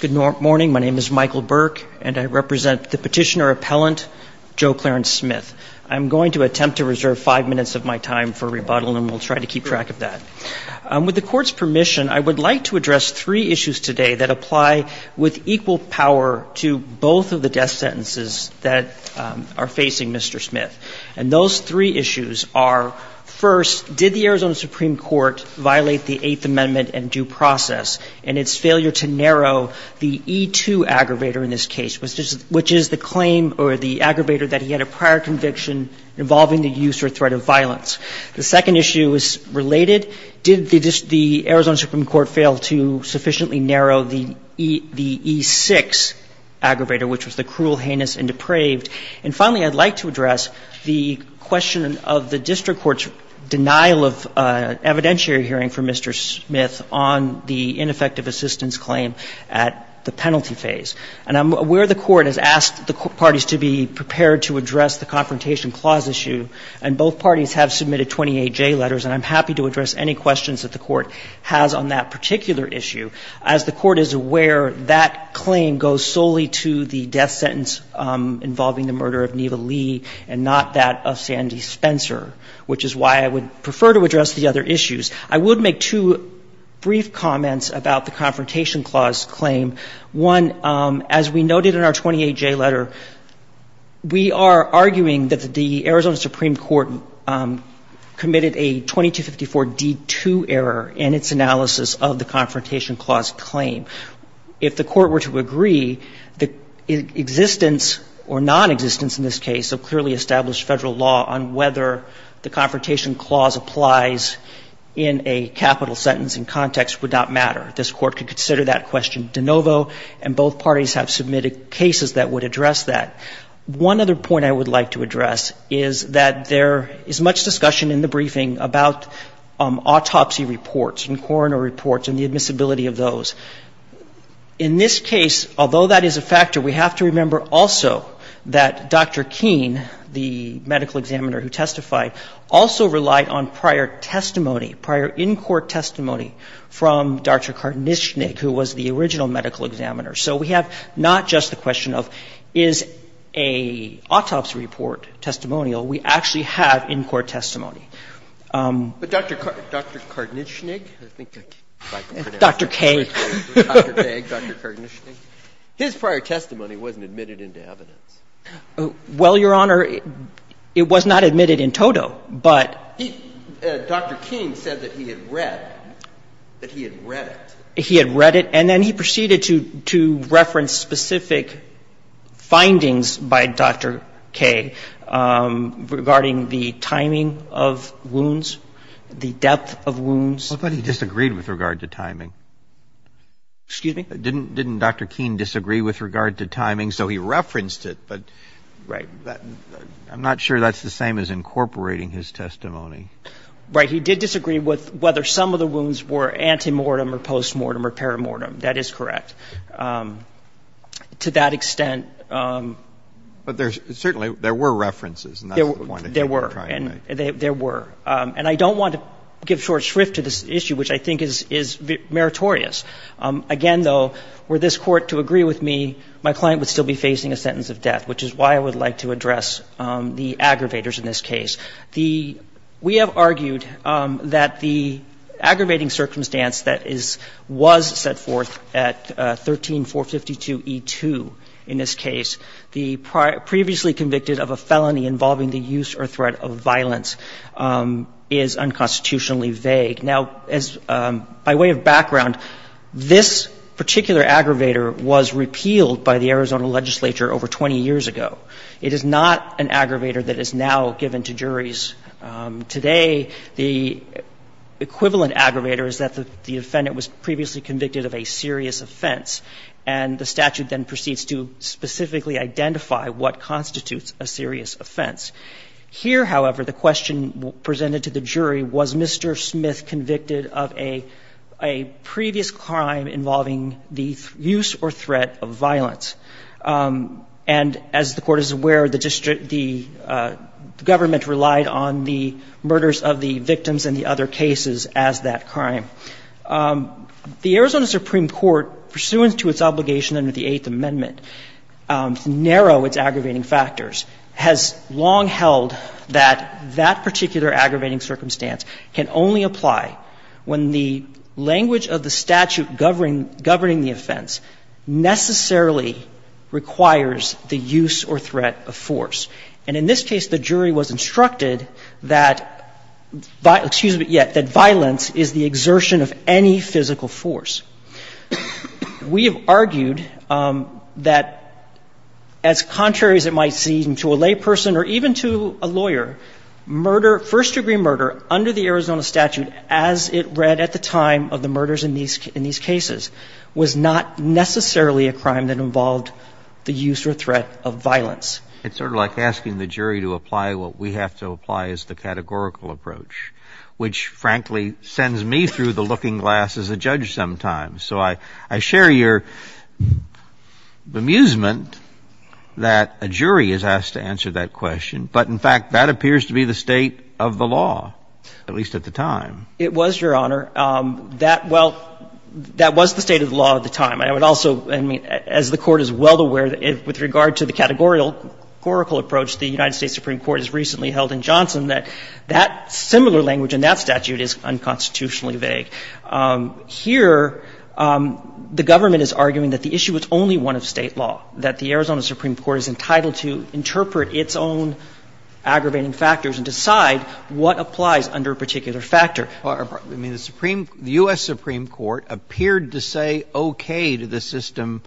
Good morning. My name is Michael Burke, and I represent the petitioner-appellant Joe Clarence Smith. I'm going to attempt to reserve five minutes of my time for rebuttal, and we'll try to keep track of that. With the Court's permission, I would like to address three issues today that apply with equal power to both of the death sentences that are facing Mr. Smith. And those three issues are, first, did the Arizona Supreme Court violate the Eighth Amendment and due process in its failure to narrow the E-2 aggravator in this case, which is the claim or the aggravator that he had a prior conviction involving the use or threat of violence? The second issue is related. Did the Arizona Supreme Court fail to sufficiently narrow the E-6 aggravator, which was the cruel, heinous, and depraved? And finally, I'd like to address the question of the district court's denial of evidentiary hearing for Mr. Smith on the ineffective assistance claim at the penalty phase. And I'm aware the Court has asked the parties to be prepared to address the Confrontation Clause issue, and both parties have submitted 28 J letters, and I'm happy to address any questions that the Court has on that particular issue. As the Court is aware, that claim goes solely to the death sentence involving the murder of Neva Lee and not that of Sandy Spencer, which is why I would prefer to address the other issues. I would make two brief comments about the Confrontation Clause claim. One, as we noted in our 28 J letter, we are arguing that the Arizona Supreme Court committed a 2254d2 error in its analysis of the Confrontation Clause claim. If the Court were to agree, the existence or nonexistence in this case of clearly established Federal law on whether the Confrontation Clause applies in a capital sentence in context would not matter. This Court could consider that question de novo, and both parties have submitted cases that would address that. One other point I would like to address is that there is much discussion in the briefing about autopsy reports and coroner reports and the admissibility of those. In this case, although that is a factor, we have to remember also that Dr. Keene, the medical examiner who testified, also relied on prior testimony, prior in-court testimony from Dr. Karnyshnik, who was the original medical examiner. So we have not just the question of is an autopsy report testimonial, we actually have in-court testimony. But Dr. Karnyshnik, Dr. K, Dr. K, Dr. Karnyshnik, his prior testimony wasn't admitted into evidence. Well, Your Honor, it was not admitted in toto, but he, Dr. Keene said that he had read, that he had read it. He had read it, and then he proceeded to reference specific findings by Dr. K regarding the timing of wounds, the depth of wounds. I thought he disagreed with regard to timing. Excuse me? Didn't Dr. Keene disagree with regard to timing? So he referenced it, but I'm not sure that's the same as incorporating his testimony. Right. He did disagree with whether some of the wounds were antemortem or postmortem or perimortem. That is correct. To that extent. But there's certainly, there were references, and that's the point that you were trying to make. There were. And I don't want to give short shrift to this issue, which I think is meritorious. Again, though, were this Court to agree with me, my client would still be facing a sentence of death, which is why I would like to address the aggravators in this case. The we have argued that the aggravating circumstance that is, was set forth at 13452E2 in this case, the previously convicted of a felony involving the use or threat of violence is unconstitutionally vague. Now, as, by way of background, this particular aggravator was repealed by the Arizona legislature over 20 years ago. It is not an aggravator that is now given to juries. Today, the equivalent aggravator is that the defendant was previously convicted of a serious offense, and the statute then proceeds to specifically identify what constitutes a serious offense. Here, however, the question presented to the jury, was Mr. Smith convicted of a previous crime involving the use or threat of violence? And as the Court is aware, the district the government relied on the murders of the victims and the other cases as that crime. The Arizona Supreme Court, pursuant to its obligation under the Eighth Amendment to narrow its aggravating factors, has long held that that particular aggravating circumstance can only apply when the language of the statute governing the offense necessarily requires the use or threat of force. And in this case, the jury was instructed that, excuse me, yes, that violence is the exertion of any physical force. We have argued that, as contrary as it might seem to a layperson or even to a lawyer, murder, first-degree murder, under the Arizona statute as it read at the time of the case, is not necessarily a crime that involved the use or threat of violence. It's sort of like asking the jury to apply what we have to apply as the categorical approach, which, frankly, sends me through the looking glass as a judge sometimes. So I share your bemusement that a jury is asked to answer that question, but in fact, that appears to be the state of the law, at least at the time. It was, Your Honor. That, well, that was the state of the law at the time. I would also, I mean, as the Court is well aware, with regard to the categorical approach the United States Supreme Court has recently held in Johnson, that that similar language in that statute is unconstitutionally vague. Here, the government is arguing that the issue is only one of State law, that the Arizona Supreme Court is entitled to interpret its own aggravating factors and decide what applies under a particular factor. I mean, the Supreme — the U.S. Supreme Court appeared to say okay to the system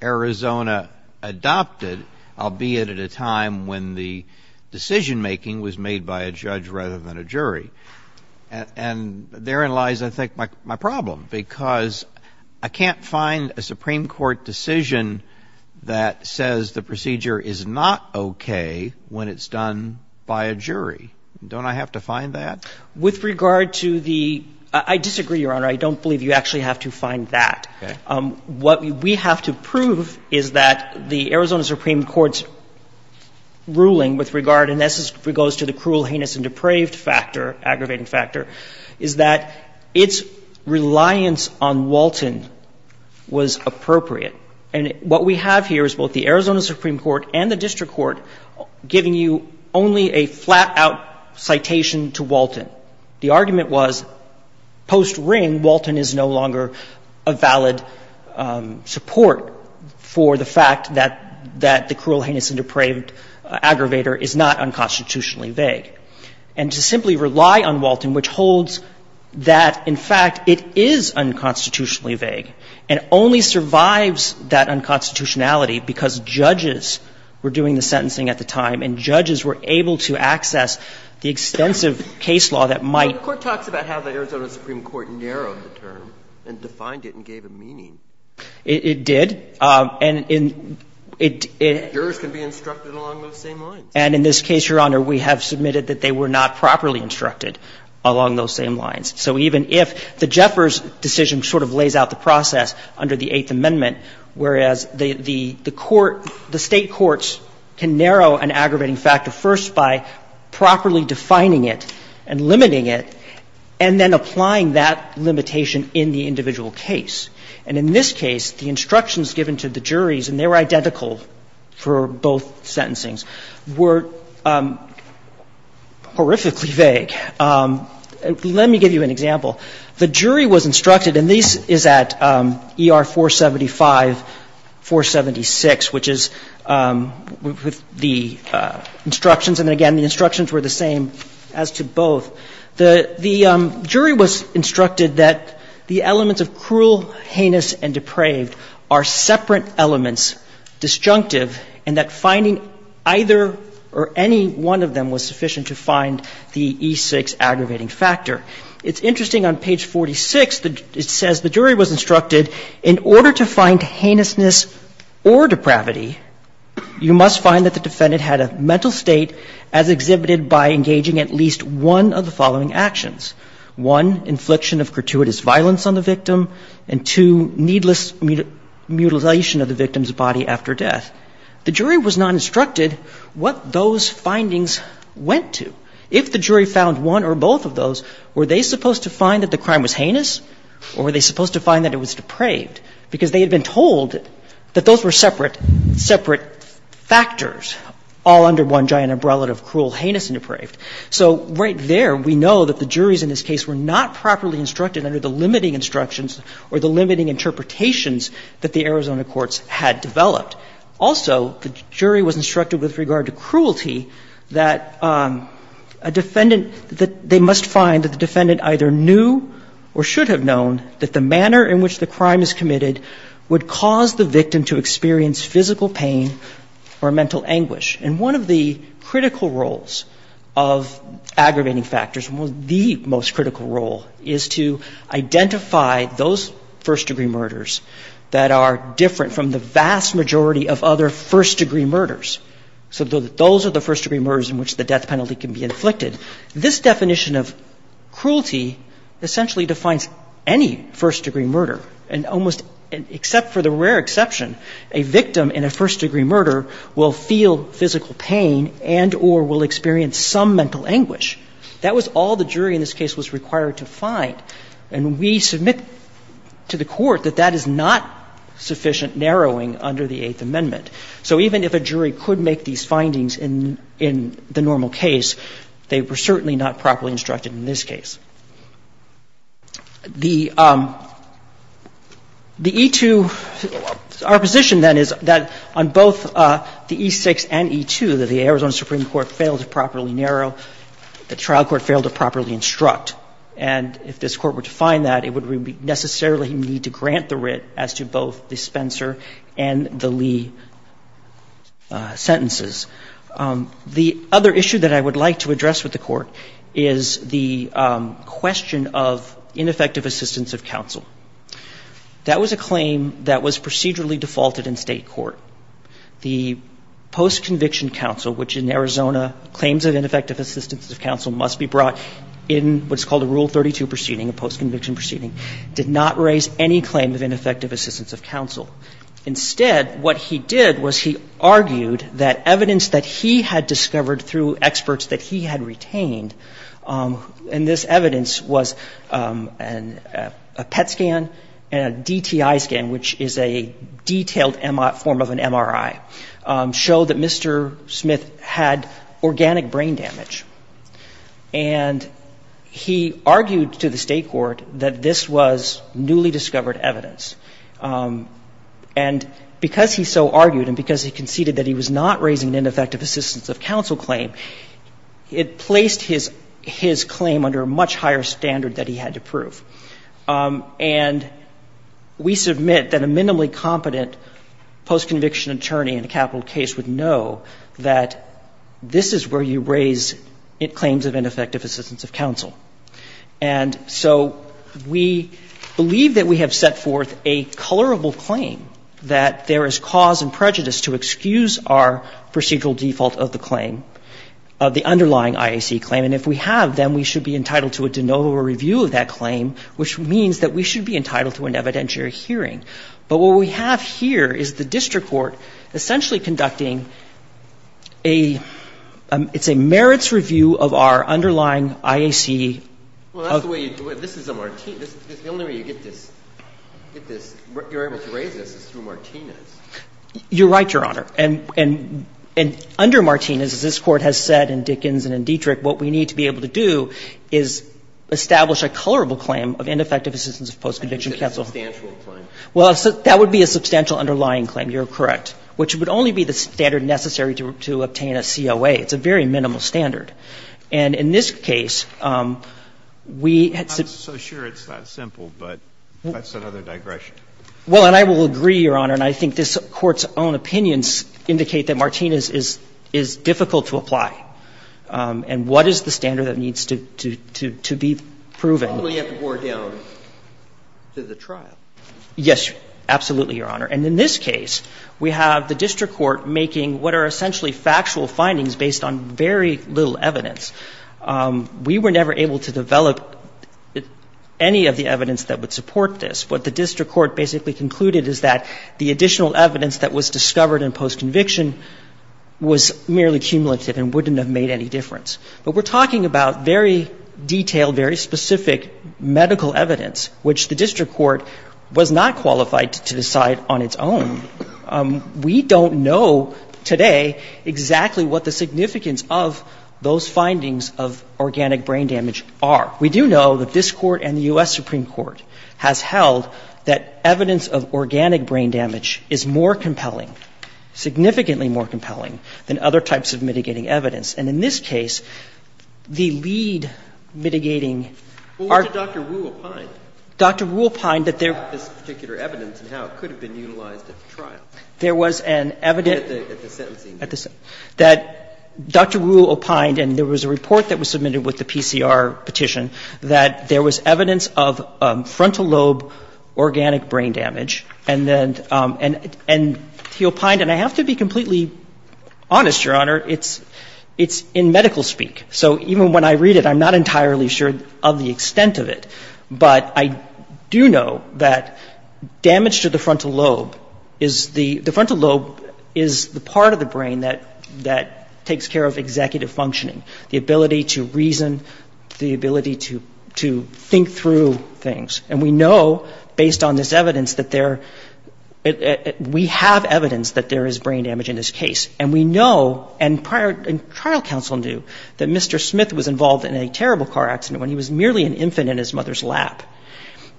Arizona adopted, albeit at a time when the decision-making was made by a judge rather than a jury. And therein lies, I think, my problem, because I can't find a Supreme Court decision that says the procedure is not okay when it's done by a jury. Don't I have to find that? With regard to the — I disagree, Your Honor. I don't believe you actually have to find that. What we have to prove is that the Arizona Supreme Court's ruling with regard and this goes to the cruel, heinous, and depraved factor, aggravating factor, is that its reliance on Walton was appropriate. And what we have here is both the Arizona Supreme Court and the district court giving you only a flat-out citation to Walton. The argument was post-Ring, Walton is no longer a valid support for the fact that the cruel, heinous, and depraved aggravator is not unconstitutionally vague. And to simply rely on Walton, which holds that, in fact, it is unconstitutionally vague and only survives that unconstitutionality because judges were doing the sentencing at the time and judges were able to access the extensive case law that might — But the Court talks about how the Arizona Supreme Court narrowed the term and defined it and gave it meaning. It did. And in — Jurors can be instructed along those same lines. And in this case, Your Honor, we have submitted that they were not properly instructed along those same lines. So even if the Jeffers decision sort of lays out the process under the Eighth Amendment, whereas the court, the State courts can narrow an aggravating factor first by properly defining it and limiting it, and then applying that limitation in the individual case. And in this case, the instructions given to the juries, and they were identical for both sentencings, were horrifically vague. Let me give you an example. The jury was instructed, and this is at ER 475, 476, which is with the instructions and, again, the instructions were the same as to both. The jury was instructed that the elements of cruel, heinous, and depraved are separate elements, disjunctive, and that finding either or any one of them was sufficient to find the E6 aggravating factor. It's interesting on page 46, it says the jury was instructed in order to find heinousness or depravity, you must find that the defendant had a mental state as exhibited by engaging at least one of the following actions. One, infliction of gratuitous violence on the victim, and two, needless mutilation of the victim's body after death. The jury was not instructed what those findings went to. If the jury found one or both of those, were they supposed to find that the crime was heinous or were they supposed to find that it was depraved? Because they had been told that those were separate, separate factors all under one giant umbrella of cruel, heinous, and depraved. So right there we know that the juries in this case were not properly instructed under the limiting instructions or the limiting interpretations that the Arizona courts had developed. Also, the jury was instructed with regard to cruelty that a defendant, that they must find that the defendant either knew or should have known that the manner in which the crime is committed would cause the victim to experience physical pain or mental anguish. And one of the critical roles of aggravating factors, the most critical role, is to identify those first-degree murders that are different from the vast majority of other first-degree murders. So those are the first-degree murders in which the death penalty can be inflicted. This definition of cruelty essentially defines any first-degree murder, and almost except for the rare exception, a victim in a first-degree murder will feel physical pain and or will experience some mental anguish. That was all the jury in this case was required to find. And we submit to the Court that that is not sufficient narrowing under the Eighth Amendment. So even if a jury could make these findings in the normal case, they were certainly not properly instructed in this case. The E-2, our position then is that on both the E-6 and E-2, that the Arizona Supreme Court failed to properly narrow, the trial court failed to properly instruct. And if this Court were to find that, it would necessarily need to grant the writ as to both the Spencer and the Lee sentences. The other issue that I would like to address with the Court is the question of ineffective assistance of counsel. That was a claim that was procedurally defaulted in State court. The post-conviction counsel, which in Arizona claims of ineffective assistance of counsel must be brought in what's called a Rule 32 proceeding, a post-conviction of assistance of counsel. Instead, what he did was he argued that evidence that he had discovered through experts that he had retained, and this evidence was a PET scan and a DTI scan, which is a detailed form of an MRI, showed that Mr. Smith had organic brain damage. And he argued to the State court that this was newly discovered evidence. And because he so argued and because he conceded that he was not raising an ineffective assistance of counsel claim, it placed his claim under a much higher standard that he had to prove. And we submit that a minimally competent post-conviction attorney in a capital case would know that this is where you raise claims of ineffective assistance of counsel. And so we believe that we have set forth a colorable claim that there is cause and prejudice to excuse our procedural default of the claim, of the underlying IAC claim. And if we have, then we should be entitled to a de novo review of that claim, which means that we should be entitled to an evidentiary hearing. But what we have here is the district court essentially conducting a, it's a merits review of our underlying IAC. Well, that's the way you do it. This is a Martinez. The only way you get this, you're able to raise this is through Martinez. You're right, Your Honor. And under Martinez, as this Court has said in Dickens and in Dietrich, what we need to be able to do is establish a colorable claim of ineffective assistance of post-conviction counsel. A substantial claim. Well, that would be a substantial underlying claim. You're correct. Which would only be the standard necessary to obtain a COA. It's a very minimal standard. And in this case, we had to be able to do that. I'm not so sure it's that simple, but that's another digression. Well, and I will agree, Your Honor, and I think this Court's own opinions indicate that Martinez is difficult to apply. And what is the standard that needs to be proven? Probably have to bore down to the trial. Yes, absolutely, Your Honor. And in this case, we have the district court making what are essentially factual findings based on very little evidence. We were never able to develop any of the evidence that would support this. What the district court basically concluded is that the additional evidence that was discovered in post-conviction was merely cumulative and wouldn't have made any difference. But we're talking about very detailed, very specific medical evidence, which the district court was not qualified to decide on its own. We don't know today exactly what the significance of those findings of organic brain damage are. We do know that this Court and the U.S. Supreme Court has held that evidence of organic brain damage is more compelling, significantly more compelling than other types of mitigating evidence. And in this case, the lead mitigating are Dr. Rule Pine. This particular evidence and how it could have been utilized at the trial. At the sentencing. That Dr. Rule Pine, and there was a report that was submitted with the PCR petition that there was evidence of frontal lobe organic brain damage. And then he opined, and I have to be completely honest, Your Honor. It's in medical speak. So even when I read it, I'm not entirely sure of the extent of it. But I do know that damage to the frontal lobe is the frontal lobe is the part of the brain that takes care of executive functioning, the ability to reason, the ability to think through things. And we know, based on this evidence, that there, we have evidence that there is brain damage in this case. And we know, and trial counsel knew, that Mr. Smith was involved in a terrible car accident when he was merely an infant in his mother's lap.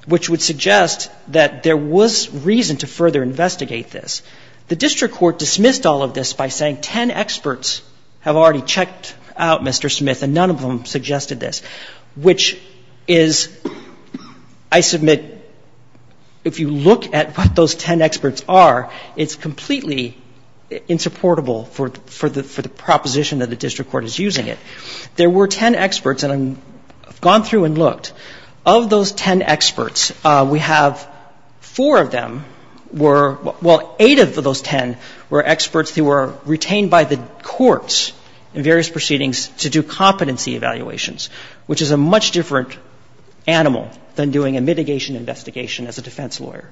Which would suggest that there was reason to further investigate this. The district court dismissed all of this by saying ten experts have already checked out Mr. Smith, and none of them suggested this. Which is, I submit, if you look at what those ten experts are, it's completely insupportable for the proposition that the district court is using it. There were ten experts, and I've gone through and looked. Of those ten experts, we have four of them were, well, eight of those ten were experts who were retained by the courts in various proceedings to do competency evaluations, which is a much different animal than doing a mitigation investigation as a defense lawyer.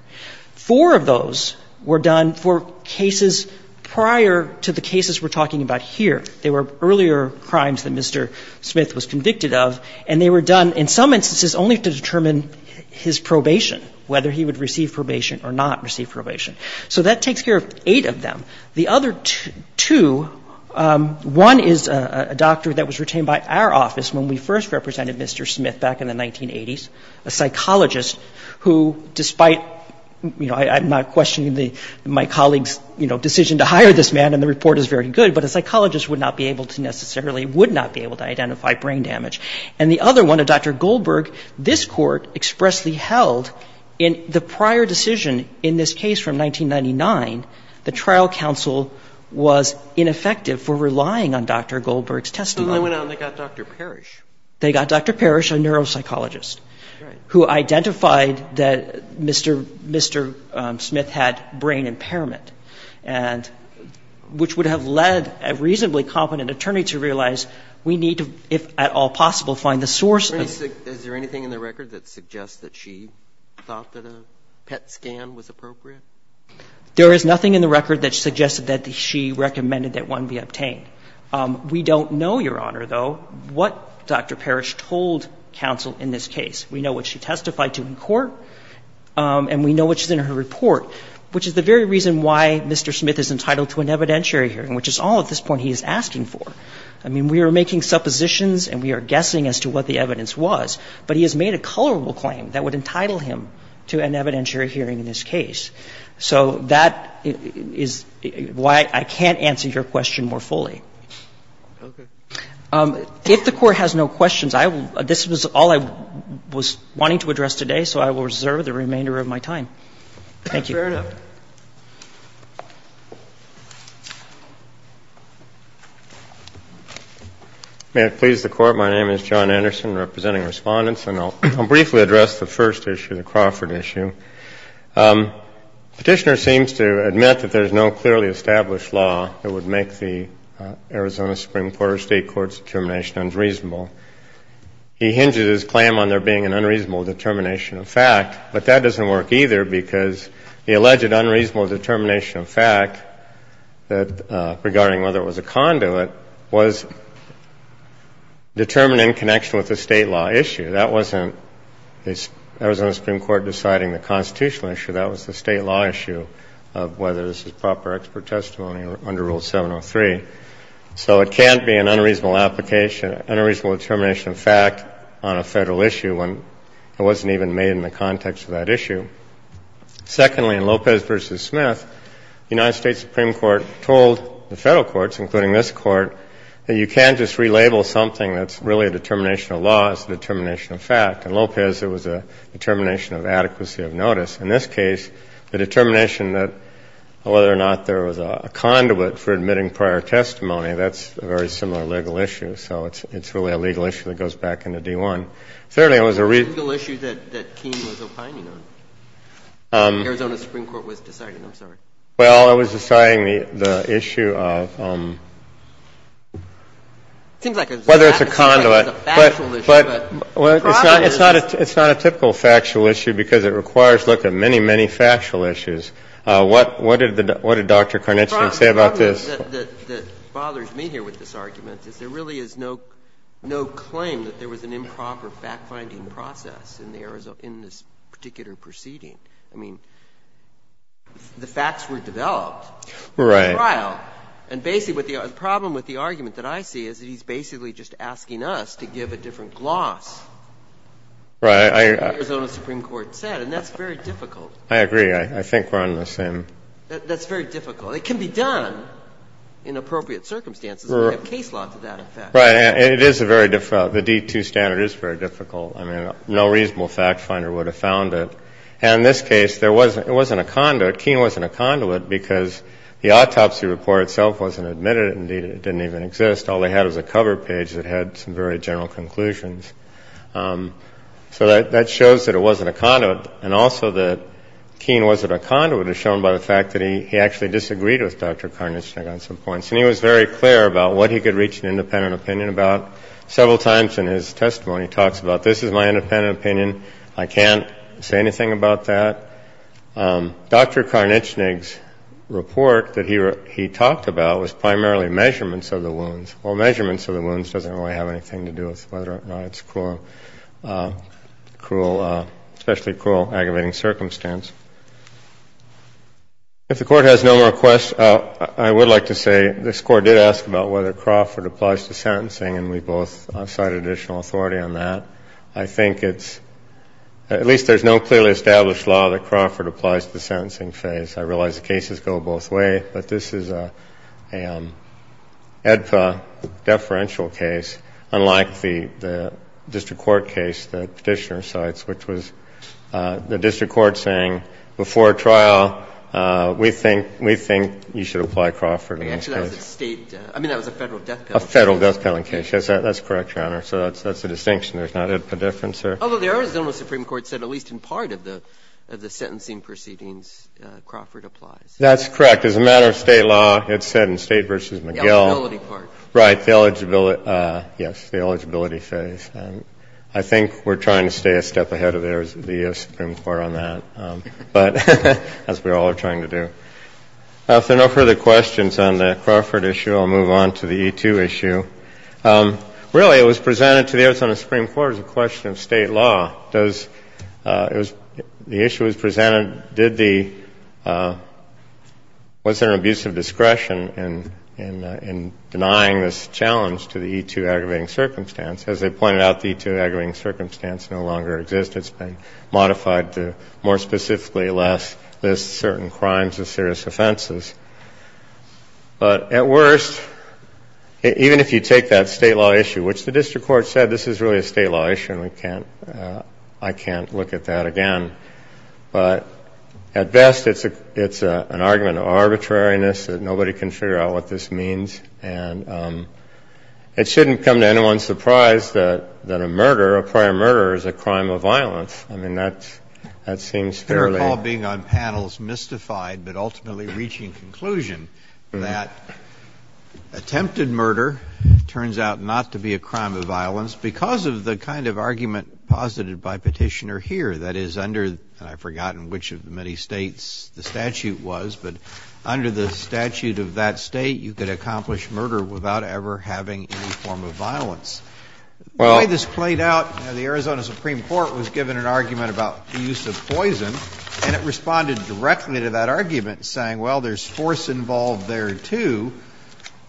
Four of those were done for cases prior to the cases we're talking about here. They were earlier crimes that Mr. Smith was convicted of, and they were done in some instances only to determine his probation, whether he would receive probation or not receive probation. So that takes care of eight of them. The other two, one is a doctor that was retained by our office when we first represented Mr. Smith back in the 1980s, a psychologist who, despite, you know, I'm not questioning my colleague's, you know, decision to hire this man, and the judge would not be able to necessarily, would not be able to identify brain damage. And the other one, a Dr. Goldberg, this Court expressly held in the prior decision in this case from 1999, the trial counsel was ineffective for relying on Dr. Goldberg's testimony. Roberts. And then they went out and they got Dr. Parrish. They got Dr. Parrish, a neuropsychologist, who identified that Mr. Smith had brain impairment, and which would have led a reasonably competent attorney to realize we need to, if at all possible, find the source of. Is there anything in the record that suggests that she thought that a PET scan was appropriate? There is nothing in the record that suggested that she recommended that one be obtained. We don't know, Your Honor, though, what Dr. Parrish told counsel in this case. We know what she testified to in court, and we know what's in her report, which is the very reason why Mr. Smith is entitled to an evidentiary hearing, which is all at this point he is asking for. I mean, we are making suppositions and we are guessing as to what the evidence was, but he has made a colorable claim that would entitle him to an evidentiary hearing in this case. So that is why I can't answer your question more fully. If the Court has no questions, I will – this was all I was wanting to address today, so I will reserve the remainder of my time. Thank you. Thank you, Your Honor. May it please the Court. My name is John Anderson, representing Respondents, and I will briefly address the first issue, the Crawford issue. Petitioner seems to admit that there is no clearly established law that would make the Arizona Supreme Court or State court's determination unreasonable. He hinges his claim on there being an unreasonable determination of fact, but that the alleged unreasonable determination of fact regarding whether it was a conduit was determined in connection with the State law issue. That wasn't the Arizona Supreme Court deciding the constitutional issue. That was the State law issue of whether this is proper expert testimony under Rule 703. So it can't be an unreasonable application, an unreasonable determination of fact on a Federal issue when it wasn't even made in the context of that issue. Secondly, in Lopez v. Smith, the United States Supreme Court told the Federal courts, including this Court, that you can't just relabel something that's really a determination of law as a determination of fact. In Lopez, it was a determination of adequacy of notice. In this case, the determination that whether or not there was a conduit for admitting prior testimony, that's a very similar legal issue. So it's really a legal issue that goes back into D-1. Thirdly, it was a reasonable issue that King was opining on. The Arizona Supreme Court was deciding, I'm sorry. Well, it was deciding the issue of whether it's a conduit. It seems like it's a factual issue. But the problem is that it's not a typical factual issue because it requires looking at many, many factual issues. What did Dr. Carnice say about this? The problem that bothers me here with this argument is there really is no claim that there was an improper fact-finding process in this particular proceeding. I mean, the facts were developed. Right. And basically, the problem with the argument that I see is that he's basically just asking us to give a different gloss. Right. That's what the Arizona Supreme Court said. And that's very difficult. I agree. I think we're on the same. That's very difficult. It can be done in appropriate circumstances. We have case law to that effect. Right. It is very difficult. The D2 standard is very difficult. I mean, no reasonable fact-finder would have found it. And in this case, there wasn't a conduit. Keen wasn't a conduit because the autopsy report itself wasn't admitted. Indeed, it didn't even exist. All they had was a cover page that had some very general conclusions. So that shows that it wasn't a conduit. And also that Keen wasn't a conduit is shown by the fact that he actually disagreed with Dr. Carnice on some points. And he was very clear about what he could reach an independent opinion about. Several times in his testimony, he talks about this is my independent opinion. I can't say anything about that. Dr. Carnice's report that he talked about was primarily measurements of the wounds. Well, measurements of the wounds doesn't really have anything to do with whether or not it's a cruel, especially cruel, aggravating circumstance. If the Court has no more questions, I would like to say this Court did ask about whether Crawford applies to sentencing. And we both cited additional authority on that. I think it's at least there's no clearly established law that Crawford applies to the sentencing phase. I realize the cases go both ways. But this is an AEDPA deferential case, unlike the district court case that Petitioner cites, which was the district court saying before trial, we think you should apply Crawford in this case. Actually, that was a State – I mean, that was a Federal death penalty case. A Federal death penalty case. Yes, that's correct, Your Honor. So that's a distinction. There's not AEDPA difference there. Although the Arizona Supreme Court said at least in part of the sentencing proceedings, Crawford applies. That's correct. As a matter of State law, it's said in State v. McGill. The eligibility part. Right. The eligibility – yes, the eligibility phase. I think we're trying to stay a step ahead of the Arizona Supreme Court on that. But that's what we all are trying to do. If there are no further questions on the Crawford issue, I'll move on to the E-2 issue. Really, it was presented to the Arizona Supreme Court as a question of State law. Does – the issue was presented – did the – was there an abuse of discretion in denying this challenge to the E-2 aggravating circumstance? As they pointed out, the E-2 aggravating circumstance no longer exists. It's been modified to more specifically list certain crimes as serious offenses. But at worst, even if you take that State law issue, which the district court said, this is really a State law issue and we can't – I can't look at that again. But at best, it's an argument of arbitrariness that nobody can figure out what this means. And it shouldn't come to anyone's surprise that a murder, a prior murder is a crime of violence. I mean, that's – that seems fairly – Your call being on panels mystified, but ultimately reaching conclusion that attempted murder turns out not to be a crime of violence because of the kind of argument posited by Petitioner here. That is, under – and I've forgotten which of the many States the statute was, but under the statute of that State, you could accomplish murder without ever having any form of violence. The way this played out, the Arizona Supreme Court was given an argument about the use of poison, and it responded directly to that argument, saying, well, there's force involved there, too.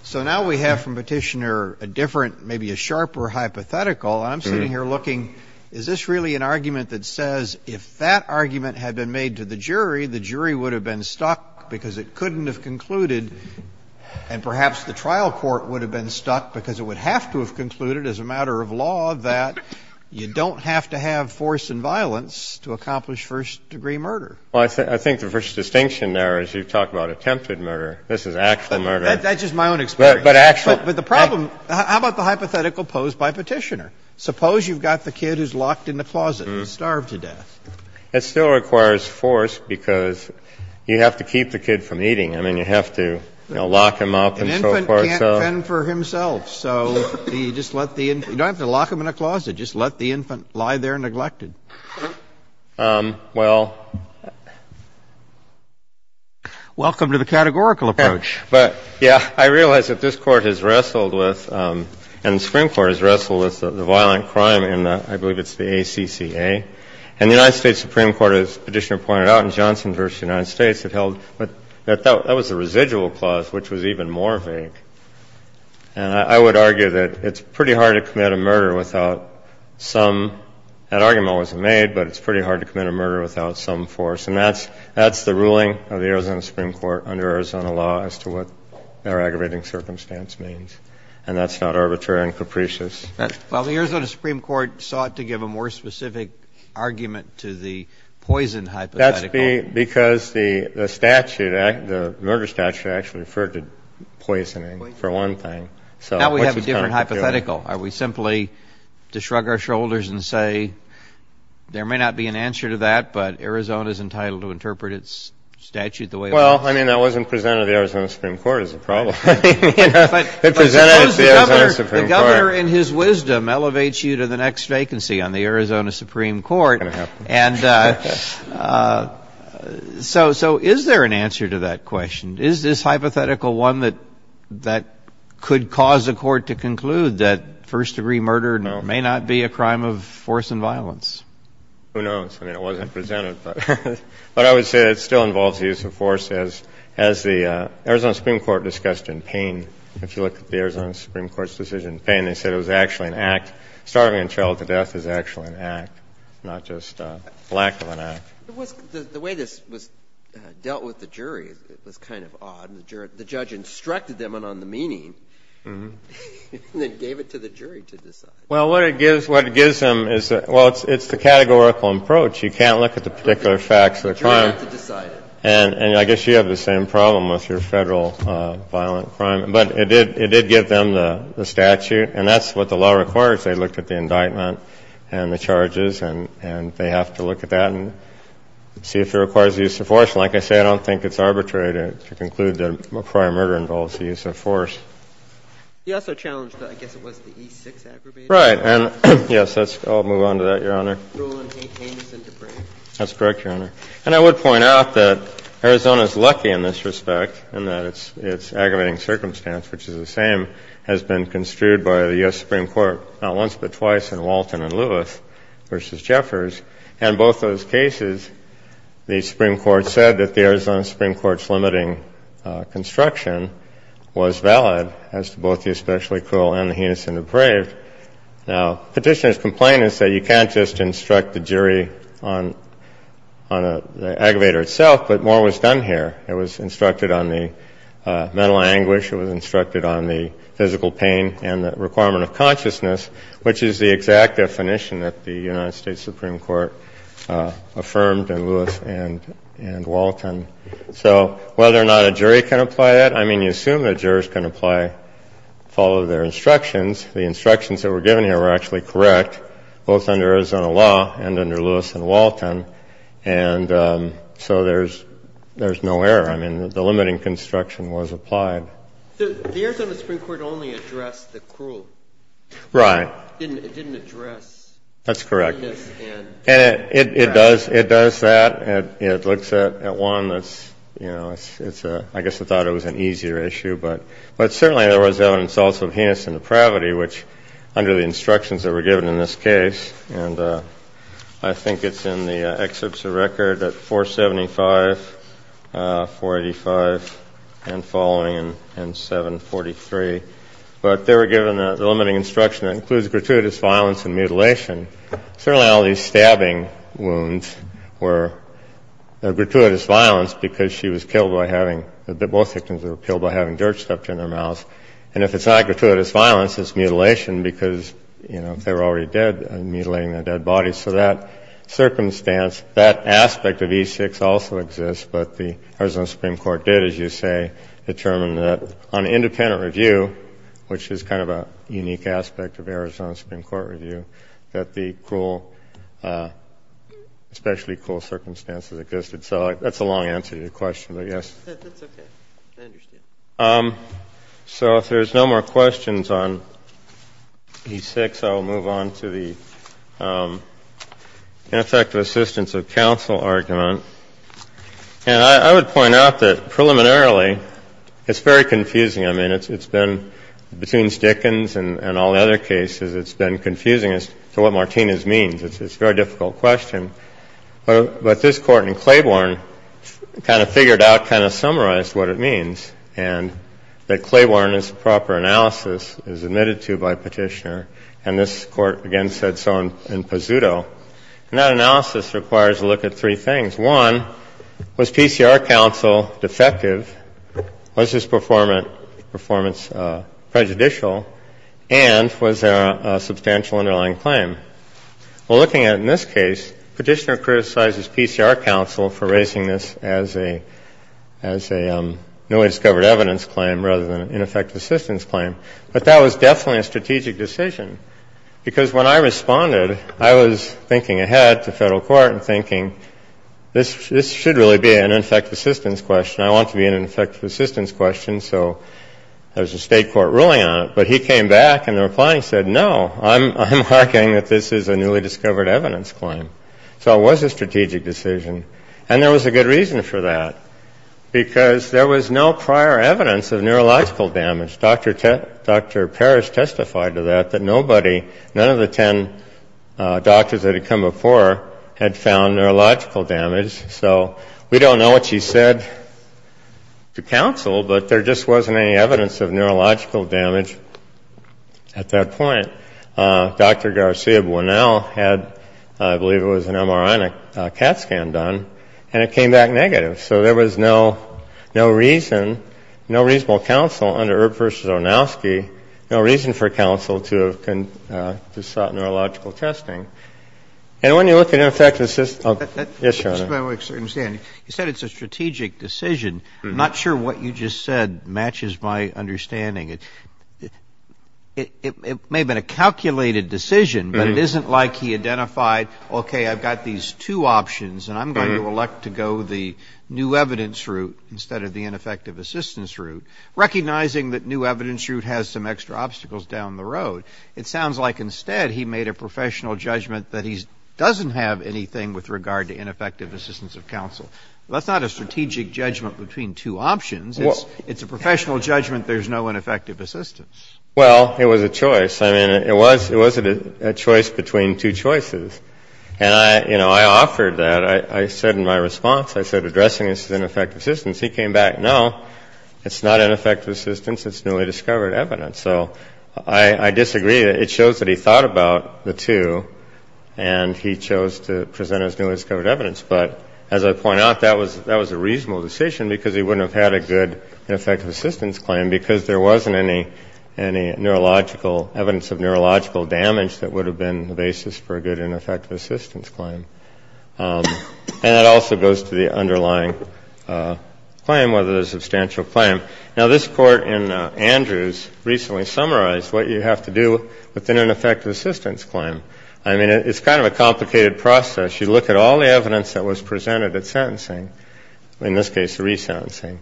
So now we have from Petitioner a different, maybe a sharper hypothetical. And I'm sitting here looking, is this really an argument that says if that argument had been made to the jury, the jury would have been stuck because it couldn't have concluded, and perhaps the trial court would have been stuck because it would have to have concluded as a matter of law that you don't have to have force and violence to accomplish first-degree murder? Well, I think the first distinction there is you talk about attempted murder. This is actual murder. That's just my own experience. But actual. But the problem – how about the hypothetical posed by Petitioner? Suppose you've got the kid who's locked in the closet and starved to death. It still requires force because you have to keep the kid from eating. I mean, you have to, you know, lock him up and so forth. An infant can't fend for himself. So you just let the – you don't have to lock him in a closet. Just let the infant lie there neglected. Well – Welcome to the categorical approach. But, yeah, I realize that this Court has wrestled with and the Supreme Court has wrestled with the violent crime in the – I believe it's the ACCA. And the United States Supreme Court, as Petitioner pointed out, in Johnson v. United States, it held – that was a residual clause, which was even more vague. And I would argue that it's pretty hard to commit a murder without some – that argument wasn't made, but it's pretty hard to commit a murder without some force. And that's the ruling of the Arizona Supreme Court under Arizona law as to what And that's not arbitrary and capricious. Well, the Arizona Supreme Court sought to give a more specific argument to the poison hypothetical. That's because the statute, the murder statute, actually referred to poisoning for one thing. Now we have a different hypothetical. Are we simply to shrug our shoulders and say there may not be an answer to that, but Arizona is entitled to interpret its statute the way it is? Well, I mean, that wasn't presented to the Arizona Supreme Court as a problem. It presented it to the Arizona Supreme Court. The governor, in his wisdom, elevates you to the next vacancy on the Arizona Supreme Court. And so is there an answer to that question? Is this hypothetical one that could cause a court to conclude that first-degree murder may not be a crime of force and violence? Who knows? I mean, it wasn't presented, but I would say that it still involves the use of force, as the Arizona Supreme Court discussed in Payne. If you look at the Arizona Supreme Court's decision in Payne, they said it was actually an act. Starving a child to death is actually an act, not just a lack of an act. The way this was dealt with the jury was kind of odd. The judge instructed them on the meaning and then gave it to the jury to decide. Well, what it gives them is the categorical approach. You can't look at the particular facts of the crime. You have to decide it. And I guess you have the same problem with your Federal violent crime. But it did give them the statute, and that's what the law requires. They looked at the indictment and the charges, and they have to look at that and see if it requires the use of force. Like I say, I don't think it's arbitrary to conclude that a prior murder involves the use of force. You also challenged, I guess it was, the E6 aggravation. And, yes, I'll move on to that, Your Honor. Ruling ain't heinous and depraved. That's correct, Your Honor. And I would point out that Arizona's lucky in this respect in that its aggravating circumstance, which is the same, has been construed by the U.S. Supreme Court not once but twice in Walton and Lewis v. Jeffers. And both those cases, the Supreme Court said that the Arizona Supreme Court's limiting construction was valid as to both the especially cruel and the heinous and depraved. Now, Petitioner's complaint is that you can't just instruct the jury on a specific aggravator itself, but more was done here. It was instructed on the mental anguish. It was instructed on the physical pain and the requirement of consciousness, which is the exact definition that the United States Supreme Court affirmed in Lewis and Walton. So whether or not a jury can apply that, I mean, you assume that jurors can apply and follow their instructions. The instructions that were given here were actually correct both under Arizona law and under Lewis and Walton. And so there's no error. I mean, the limiting construction was applied. The Arizona Supreme Court only addressed the cruel. Right. It didn't address heinous and depraved. That's correct. And it does that. It looks at one that's, you know, I guess it thought it was an easier issue. But certainly there was evidence also of heinous and depravity, which under the instructions that were given in this case. And I think it's in the excerpts of record at 475, 485, and following, and 743. But they were given the limiting instruction that includes gratuitous violence and mutilation. Certainly all these stabbing wounds were gratuitous violence because she was killed by having – both victims were killed by having dirt stuffed in their mouth. And if it's not gratuitous violence, it's mutilation because, you know, if they were already dead, mutilating the dead body. So that circumstance, that aspect of E6 also exists. But the Arizona Supreme Court did, as you say, determine that on independent review, which is kind of a unique aspect of Arizona Supreme Court review, that the cruel, especially cruel circumstances existed. So that's a long answer to your question, but yes. That's okay. I understand. So if there's no more questions on E6, I will move on to the ineffective assistance of counsel argument. And I would point out that preliminarily, it's very confusing. I mean, it's been – between Dickens and all the other cases, it's been confusing as to what Martinez means. It's a very difficult question. But this Court in Claiborne kind of figured out, kind of summarized what it means. And that Claiborne's proper analysis is admitted to by Petitioner. And this Court, again, said so in Pazuto. And that analysis requires a look at three things. One, was PCR counsel defective? Was his performance prejudicial? And was there a substantial underlying claim? Well, looking at it in this case, Petitioner criticizes PCR counsel for raising this as a newly discovered evidence claim rather than an ineffective assistance claim. But that was definitely a strategic decision. Because when I responded, I was thinking ahead to federal court and thinking, this should really be an ineffective assistance question. I want it to be an ineffective assistance question, so there's a state court ruling on it. But he came back, and the reply he said, no, I'm arguing that this is a newly discovered evidence claim. So it was a strategic decision. And there was a good reason for that. Because there was no prior evidence of neurological damage. Dr. Parrish testified to that, that nobody, none of the ten doctors that had come before had found neurological damage. So we don't know what she said to counsel, but there just wasn't any evidence of neurological damage at that point. Dr. Garcia-Buenal had, I believe it was an MRI and a CAT scan done, and it came back negative. So there was no reason, no reasonable counsel under Erb versus Onowski, no reason for counsel to have sought neurological testing. And when you look at ineffective assistance ‑‑ yes, Your Honor. You said it's a strategic decision. I'm not sure what you just said matches my understanding. It may have been a calculated decision, but it isn't like he identified, okay, I've got these two options, and I'm going to elect to go the new evidence route instead of the ineffective assistance route, recognizing that new evidence route has some extra obstacles down the road. It sounds like instead he made a professional judgment that he doesn't have anything with regard to ineffective assistance of counsel. That's not a strategic judgment between two options. It's a professional judgment there's no ineffective assistance. Well, it was a choice. I mean, it was a choice between two choices. And, you know, I offered that. I said in my response, I said addressing this is ineffective assistance. He came back, no, it's not ineffective assistance, it's newly discovered evidence. So I disagree. It shows that he thought about the two, and he chose to present as newly discovered evidence. But as I point out, that was a reasonable decision because he wouldn't have had a good ineffective assistance claim because there wasn't any neurological evidence of neurological damage that would have been the basis for a good ineffective assistance claim. And it also goes to the underlying claim, whether there's a substantial claim. Now, this court in Andrews recently summarized what you have to do within an effective assistance claim. I mean, it's kind of a complicated process. You look at all the evidence that was presented at sentencing, in this case resentencing,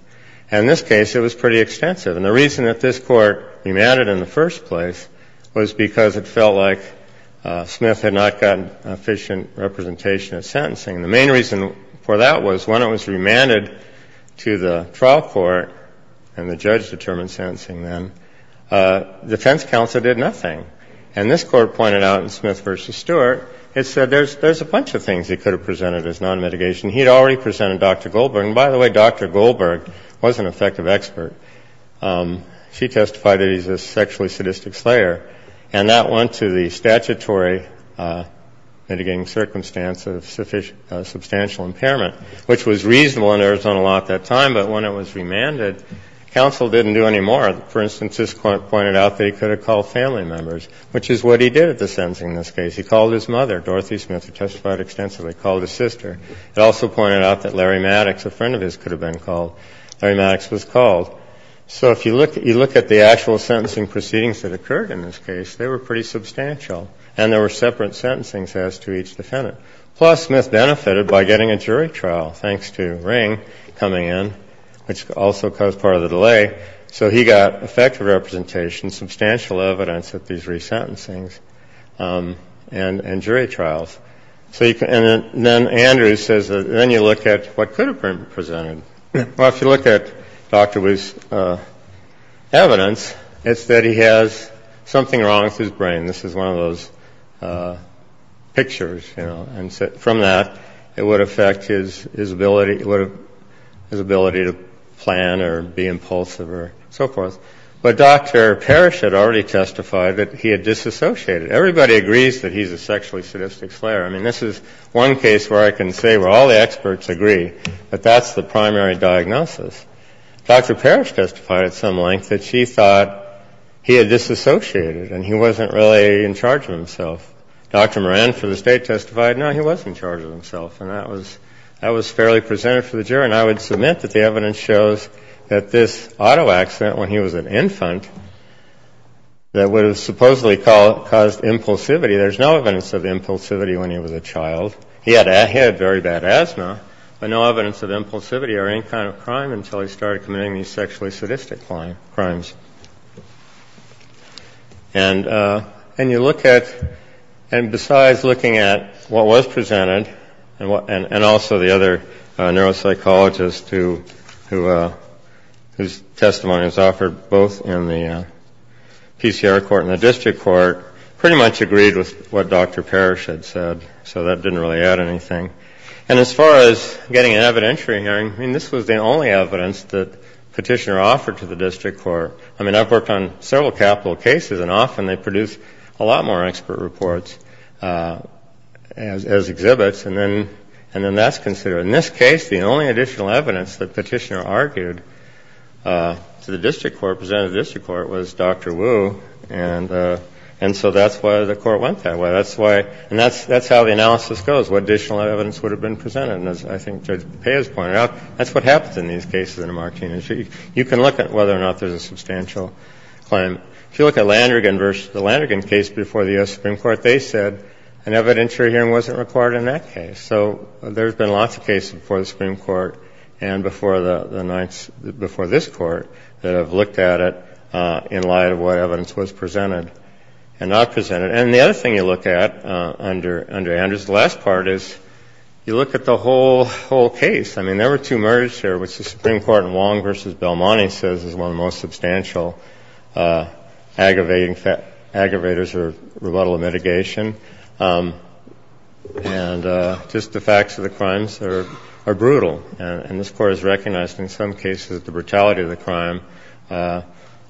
and in this case it was pretty extensive. And the reason that this court remanded in the first place was because it felt like Smith had not gotten efficient representation at sentencing. The main reason for that was when it was remanded to the trial court and the judge determined sentencing then, defense counsel did nothing. And this court pointed out in Smith v. Stewart, it said there's a bunch of things he could have presented as non-mitigation. He had already presented Dr. Goldberg. And by the way, Dr. Goldberg was an effective expert. She testified that he's a sexually sadistic slayer. And that went to the statutory mitigating circumstance of substantial impairment, which was reasonable in Arizona law at that time. But when it was remanded, counsel didn't do any more. For instance, this court pointed out that he could have called family members, which is what he did at the sentencing in this case. He called his mother, Dorothy Smith, who testified extensively, called his sister. It also pointed out that Larry Maddox, a friend of his, could have been called. Larry Maddox was called. So if you look at the actual sentencing proceedings that occurred in this case, they were pretty substantial. And there were separate sentencings as to each defendant. Plus, Smith benefited by getting a jury trial, thanks to Ring coming in, which also caused part of the delay. So he got effective representation, substantial evidence at these resentencings, and jury trials. And then Andrew says that then you look at what could have been presented. Well, if you look at Dr. Wu's evidence, it's that he has something wrong with his brain. From that, it would affect his ability to plan or be impulsive or so forth. But Dr. Parrish had already testified that he had disassociated. Everybody agrees that he's a sexually sadistic slayer. I mean, this is one case where I can say where all the experts agree that that's the primary diagnosis. Dr. Parrish testified at some length that she thought he had disassociated and he wasn't really in charge of himself. Dr. Moran for the State testified, no, he wasn't in charge of himself. And that was fairly presented for the jury. And I would submit that the evidence shows that this auto accident when he was an infant that would have supposedly caused impulsivity, there's no evidence of impulsivity when he was a child. He had very bad asthma, but no evidence of impulsivity or any kind of crime until he started committing these sexually sadistic crimes. And you look at, and besides looking at what was presented, and also the other neuropsychologist whose testimony was offered both in the PCR court and the district court, pretty much agreed with what Dr. Parrish had said. So that didn't really add anything. And as far as getting an evidentiary hearing, I mean, this was the only evidence that Petitioner offered to the district court. I mean, I've worked on several capital cases, and often they produce a lot more expert reports as exhibits. And then that's considered. In this case, the only additional evidence that Petitioner argued to the district court, presented to the district court, was Dr. Wu. And so that's why the court went that way. And that's how the analysis goes, what additional evidence would have been presented. And as I think Judge Paez pointed out, that's what happens in these cases in a martini. You can look at whether or not there's a substantial claim. If you look at Landrigan versus the Landrigan case before the U.S. Supreme Court, they said an evidentiary hearing wasn't required in that case. So there's been lots of cases before the Supreme Court and before the Ninth, before this Court, that have looked at it in light of what evidence was presented and not presented. And the other thing you look at under Andrews, the last part is, you look at the whole case. I mean, there were two murders here, which the Supreme Court in Wong versus Belmonte says is one of the most substantial aggravators or rebuttal of mitigation. And just the facts of the crimes are brutal. And this Court has recognized in some cases that the brutality of the crime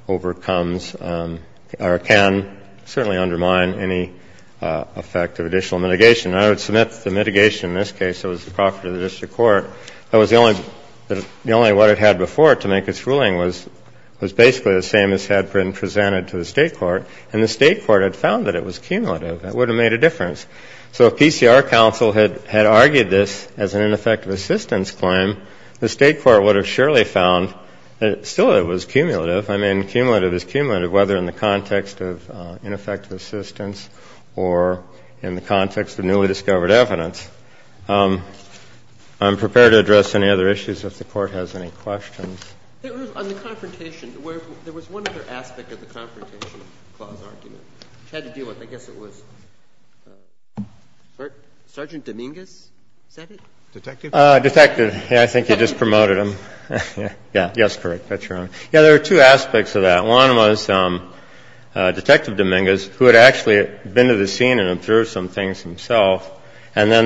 overcomes or can certainly undermine any effect of additional mitigation. And I would submit that the mitigation in this case that was the property of the district court, that was the only one it had before to make its ruling, was basically the same as had been presented to the State court. And the State court had found that it was cumulative. It would have made a difference. So if PCR counsel had argued this as an ineffective assistance claim, the State court would have surely found that still it was cumulative. I mean, cumulative is cumulative, whether in the context of ineffective assistance or in the context of newly discovered evidence. I'm prepared to address any other issues if the Court has any questions. On the confrontation, there was one other aspect of the confrontation clause argument, which had to do with, I guess it was Sergeant Dominguez, is that it? Detective? Detective. Yeah, I think you just promoted him. Yeah. Yes, correct. Yeah, there were two aspects of that. One was Detective Dominguez, who had actually been to the scene and observed some things himself. And then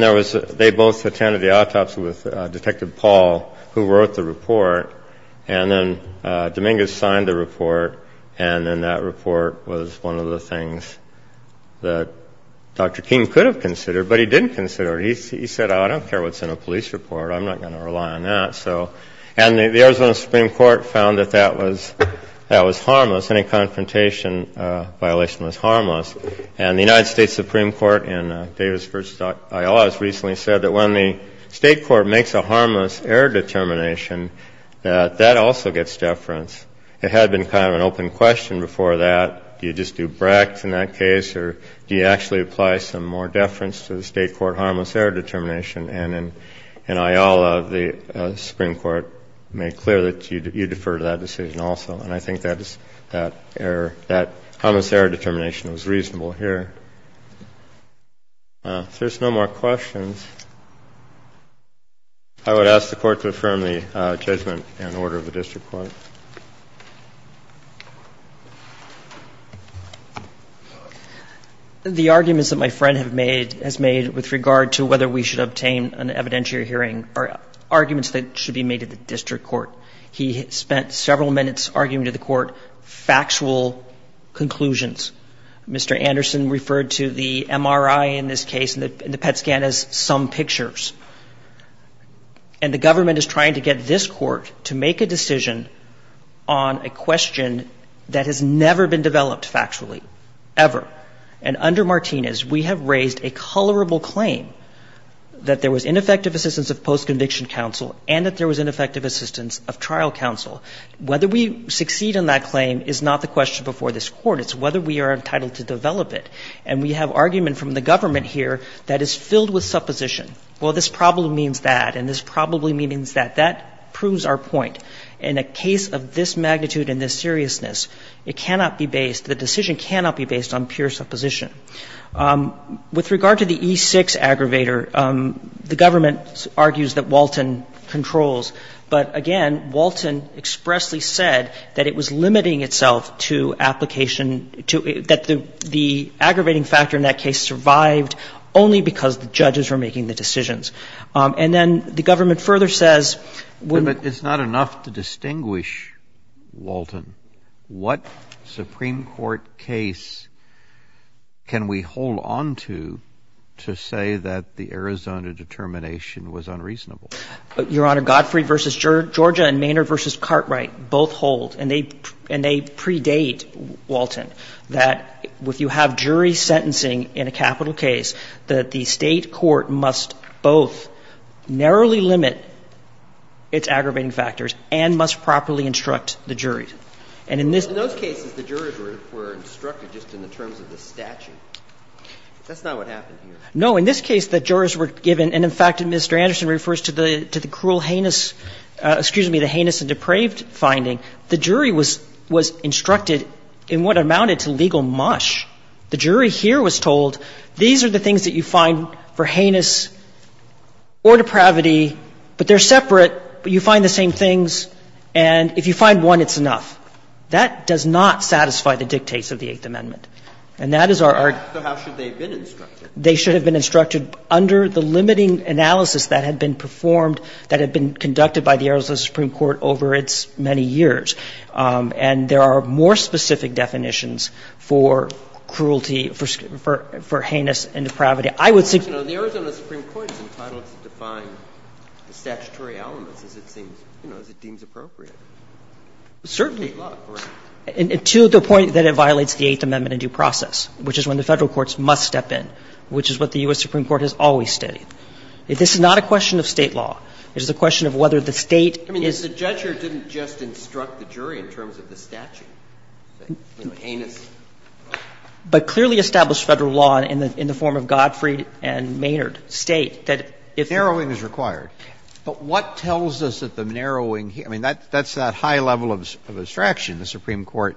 they both attended the autopsy with Detective Paul, who wrote the report. And then Dominguez signed the report, and then that report was one of the things that Dr. King could have considered, but he didn't consider it. He said, oh, I don't care what's in a police report. I'm not going to rely on that. And the Arizona Supreme Court found that that was harmless. Any confrontation violation was harmless. And the United States Supreme Court in Davis v. Ayala has recently said that when the state court makes a harmless error determination, that that also gets deference. It had been kind of an open question before that, do you just do Brecht in that case, or do you actually apply some more deference to the state court harmless error determination? And in Ayala, the Supreme Court made clear that you defer to that decision also. And I think that is that error, that harmless error determination was reasonable here. If there's no more questions, I would ask the Court to affirm the judgment and order of the district court. The arguments that my friend has made with regard to whether we should obtain an evidentiary hearing are arguments that should be made at the district court. He spent several minutes arguing to the court factual conclusions. Mr. Anderson referred to the MRI in this case and the PET scan as some pictures. And the government is trying to get this court to make a decision on a question that has never been developed factually, ever. And under Martinez, we have raised a colorable claim that there was ineffective assistance of post-conviction counsel and that there was ineffective assistance of trial counsel. Whether we succeed in that claim is not the question before this Court. It's whether we are entitled to develop it. And we have argument from the government here that is filled with supposition. Well, this probably means that and this probably means that. That proves our point. In a case of this magnitude and this seriousness, it cannot be based, the decision cannot be based on pure supposition. With regard to the E-6 aggravator, the government argues that Walton controls. But again, Walton expressly said that it was limiting itself to application to, that the aggravating factor in that case survived only because the judges were making the decisions. And then the government further says when the. It's not enough to distinguish, Walton, what Supreme Court case can we hold onto to say that the Arizona determination was unreasonable? Your Honor, Godfrey v. Georgia and Maynard v. Cartwright both hold, and they predate Walton, that if you have jury sentencing in a capital case, that the State court must both narrowly limit its aggravating factors and must properly instruct the jury. And in this. But in those cases, the jurors were instructed just in the terms of the statute. That's not what happened here. No. In this case, the jurors were given, and in fact, Mr. Anderson refers to the cruel heinous, excuse me, the heinous and depraved finding. The jury was instructed in what amounted to legal mush. The jury here was told these are the things that you find for heinous or depravity, but they're separate, but you find the same things, and if you find one, it's enough. That does not satisfy the dictates of the Eighth Amendment. And that is our argument. So how should they have been instructed? They should have been instructed under the limiting analysis that had been performed that had been conducted by the Arizona Supreme Court over its many years. And there are more specific definitions for cruelty, for heinous and depravity. I would suggest. The Arizona Supreme Court is entitled to define the statutory elements as it seems to be appropriate. Certainly. To the point that it violates the Eighth Amendment in due process, which is when the Federal courts must step in, which is what the U.S. Supreme Court has always studied. This is not a question of State law. It is a question of whether the State is. I mean, the judge here didn't just instruct the jury in terms of the statute, heinous. But clearly established Federal law in the form of Godfrey and Maynard State that if. Narrowing is required. But what tells us that the narrowing, I mean, that's that high level of abstraction. The Supreme Court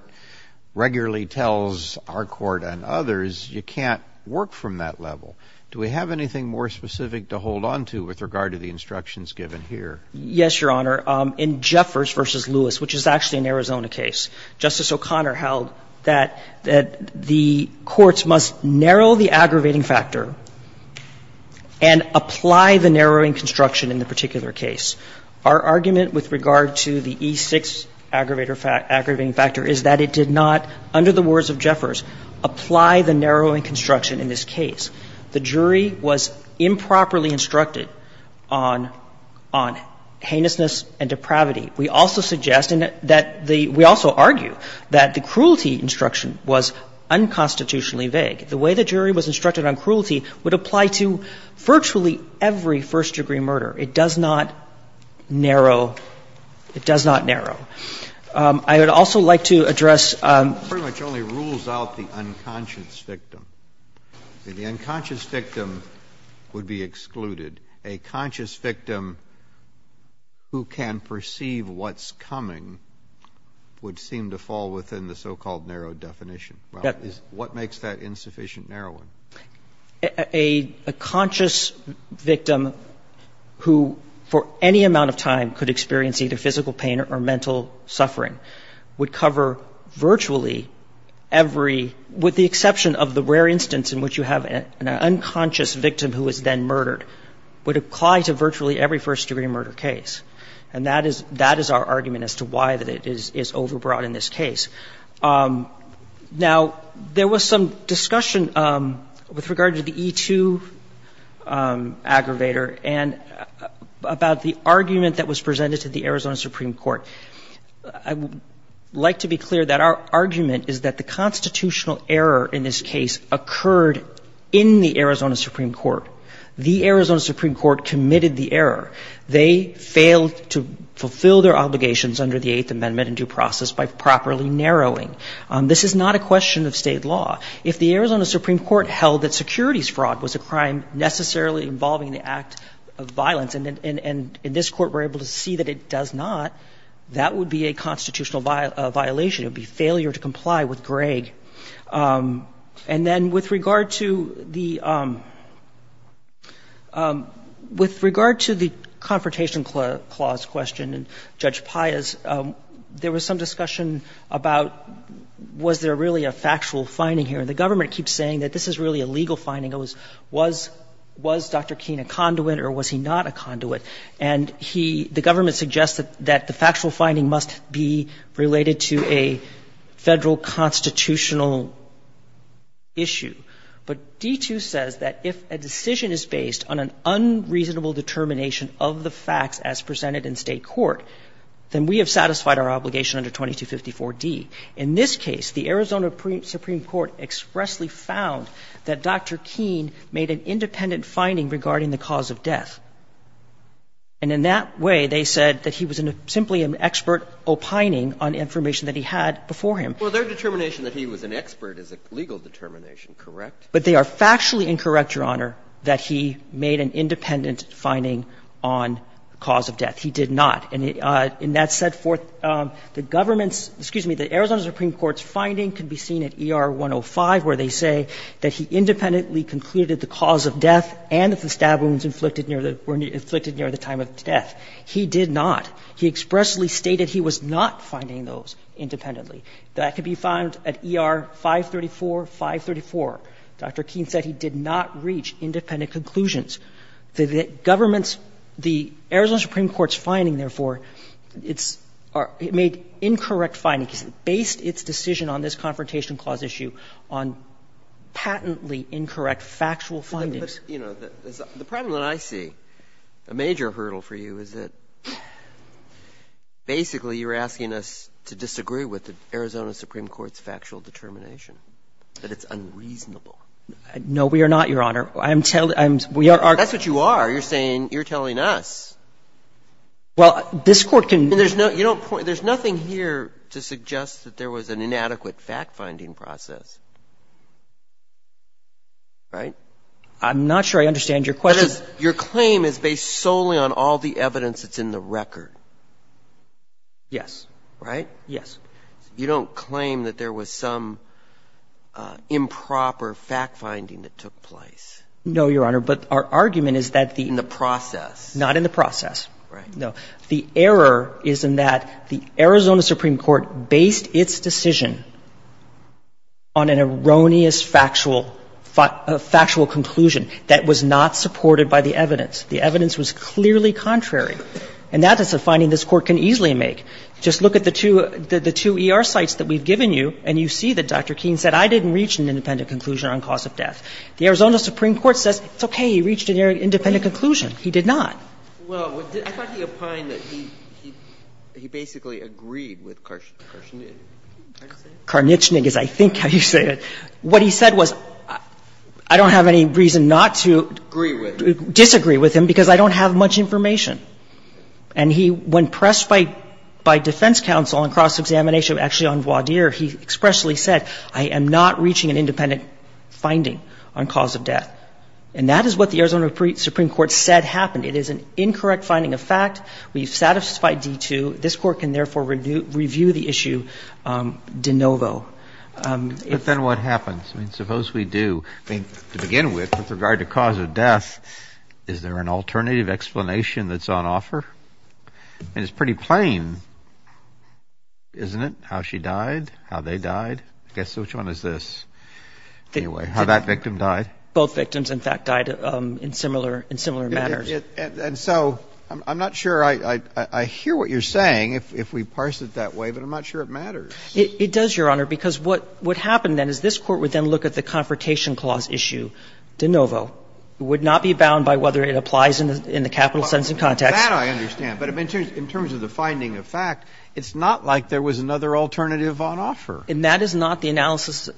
regularly tells our Court and others you can't work from that level. Do we have anything more specific to hold on to with regard to the instructions given here? Yes, Your Honor. In Jeffers v. Lewis, which is actually an Arizona case, Justice O'Connor held that the courts must narrow the aggravating factor and apply the narrowing construction in the particular case. Our argument with regard to the E6 aggravating factor is that it did not, under the words of Jeffers, apply the narrowing construction in this case. The jury was improperly instructed on heinousness and depravity. We also suggest and that the we also argue that the cruelty instruction was unconstitutionally vague. The way the jury was instructed on cruelty would apply to virtually every first-degree murder. It does not narrow. It does not narrow. I would also like to address. It pretty much only rules out the unconscious victim. The unconscious victim would be excluded. A conscious victim who can perceive what's coming would seem to fall within the so-called narrow definition. What makes that insufficient narrowing? A conscious victim who for any amount of time could experience either physical pain or mental suffering would cover virtually every, with the exception of the rare instance in which you have an unconscious victim who is then murdered, would apply to virtually every first-degree murder case. And that is our argument as to why that it is overbroad in this case. Now, there was some discussion with regard to the E2 aggravator and about the argument that was presented to the Arizona Supreme Court. I would like to be clear that our argument is that the constitutional error in this case occurred in the Arizona Supreme Court. The Arizona Supreme Court committed the error. They failed to fulfill their obligations under the Eighth Amendment in due process by properly narrowing. This is not a question of State law. If the Arizona Supreme Court held that securities fraud was a crime necessarily involving the act of violence, and in this Court we're able to see that it does not, that would be a constitutional violation. It would be failure to comply with Gregg. And then with regard to the confrontation clause question and Judge Paya's, there was some discussion about was there really a factual finding here. And the government keeps saying that this is really a legal finding. It was, was Dr. Keene a conduit or was he not a conduit? And he, the government suggests that the factual finding must be related to a Federal constitutional issue. But D2 says that if a decision is based on an unreasonable determination of the facts as presented in State court, then we have satisfied our obligation under 2254d. In this case, the Arizona Supreme Court expressly found that Dr. Keene made an independent finding regarding the cause of death. And in that way, they said that he was simply an expert opining on information that he had before him. Breyer. Well, their determination that he was an expert is a legal determination, correct? But they are factually incorrect, Your Honor, that he made an independent finding on the cause of death. He did not. And in that set forth, the government's, excuse me, the Arizona Supreme Court's finding could be seen at ER 105 where they say that he independently concluded the cause of death and that the stab wounds inflicted near the time of death. He did not. He expressly stated he was not finding those independently. That could be found at ER 534, 534. Dr. Keene said he did not reach independent conclusions. The government's, the Arizona Supreme Court's finding, therefore, it's made incorrect findings, based its decision on this Confrontation Clause issue on patently incorrect factual findings. But, you know, the problem that I see, a major hurdle for you, is that basically you're asking us to disagree with the Arizona Supreme Court's factual determination, that it's unreasonable. No, we are not, Your Honor. I'm telling you, we are. That's what you are. You're saying you're telling us. Well, this Court can. There's no, you don't point, there's nothing here to suggest that there was an inadequate fact-finding process. Right? I'm not sure I understand your question. Your claim is based solely on all the evidence that's in the record. Yes. Right? Yes. You don't claim that there was some improper fact-finding that took place. No, Your Honor. But our argument is that the In the process. Not in the process. Right. No. The error is in that the Arizona Supreme Court based its decision on an erroneous factual, factual conclusion that was not supported by the evidence. The evidence was clearly contrary. And that is a finding this Court can easily make. Just look at the two, the two ER sites that we've given you, and you see that Dr. Keene said, I didn't reach an independent conclusion on cause of death. The Arizona Supreme Court says, it's okay, he reached an independent conclusion. He did not. Well, I thought he opined that he basically agreed with Karnichnig. Karnichnig is, I think, how you say it. What he said was, I don't have any reason not to disagree with him because I don't have much information. And he, when pressed by defense counsel on cross-examination, actually on voir dire, he expressly said, I am not reaching an independent finding. On cause of death. And that is what the Arizona Supreme Court said happened. It is an incorrect finding of fact. We've satisfied D2. This Court can, therefore, review the issue de novo. But then what happens? I mean, suppose we do. I mean, to begin with, with regard to cause of death, is there an alternative explanation that's on offer? I mean, it's pretty plain, isn't it, how she died, how they died? I guess, which one is this? Anyway, how that victim died. Both victims, in fact, died in similar matters. And so I'm not sure I hear what you're saying, if we parse it that way, but I'm not sure it matters. It does, Your Honor, because what happened then is this Court would then look at the Confrontation Clause issue de novo. It would not be bound by whether it applies in the capital sentence context. That I understand. But in terms of the finding of fact, it's not like there was another alternative on offer. And that is not the analysis.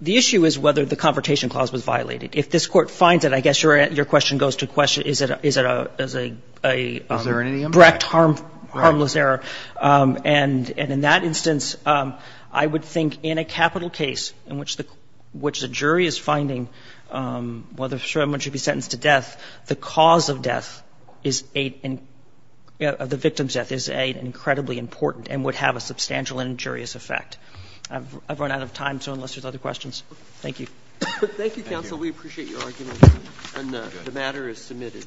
The issue is whether the Confrontation Clause was violated. If this Court finds it, I guess your question goes to a question, is it a direct harmless error. And in that instance, I would think in a capital case in which the jury is finding whether someone should be sentenced to death, the cause of death is a — the victim's death is an incredibly important and would have a substantial and injurious effect. I've run out of time, so unless there's other questions. Thank you. Roberts. Thank you, counsel. We appreciate your argument. And the matter is submitted.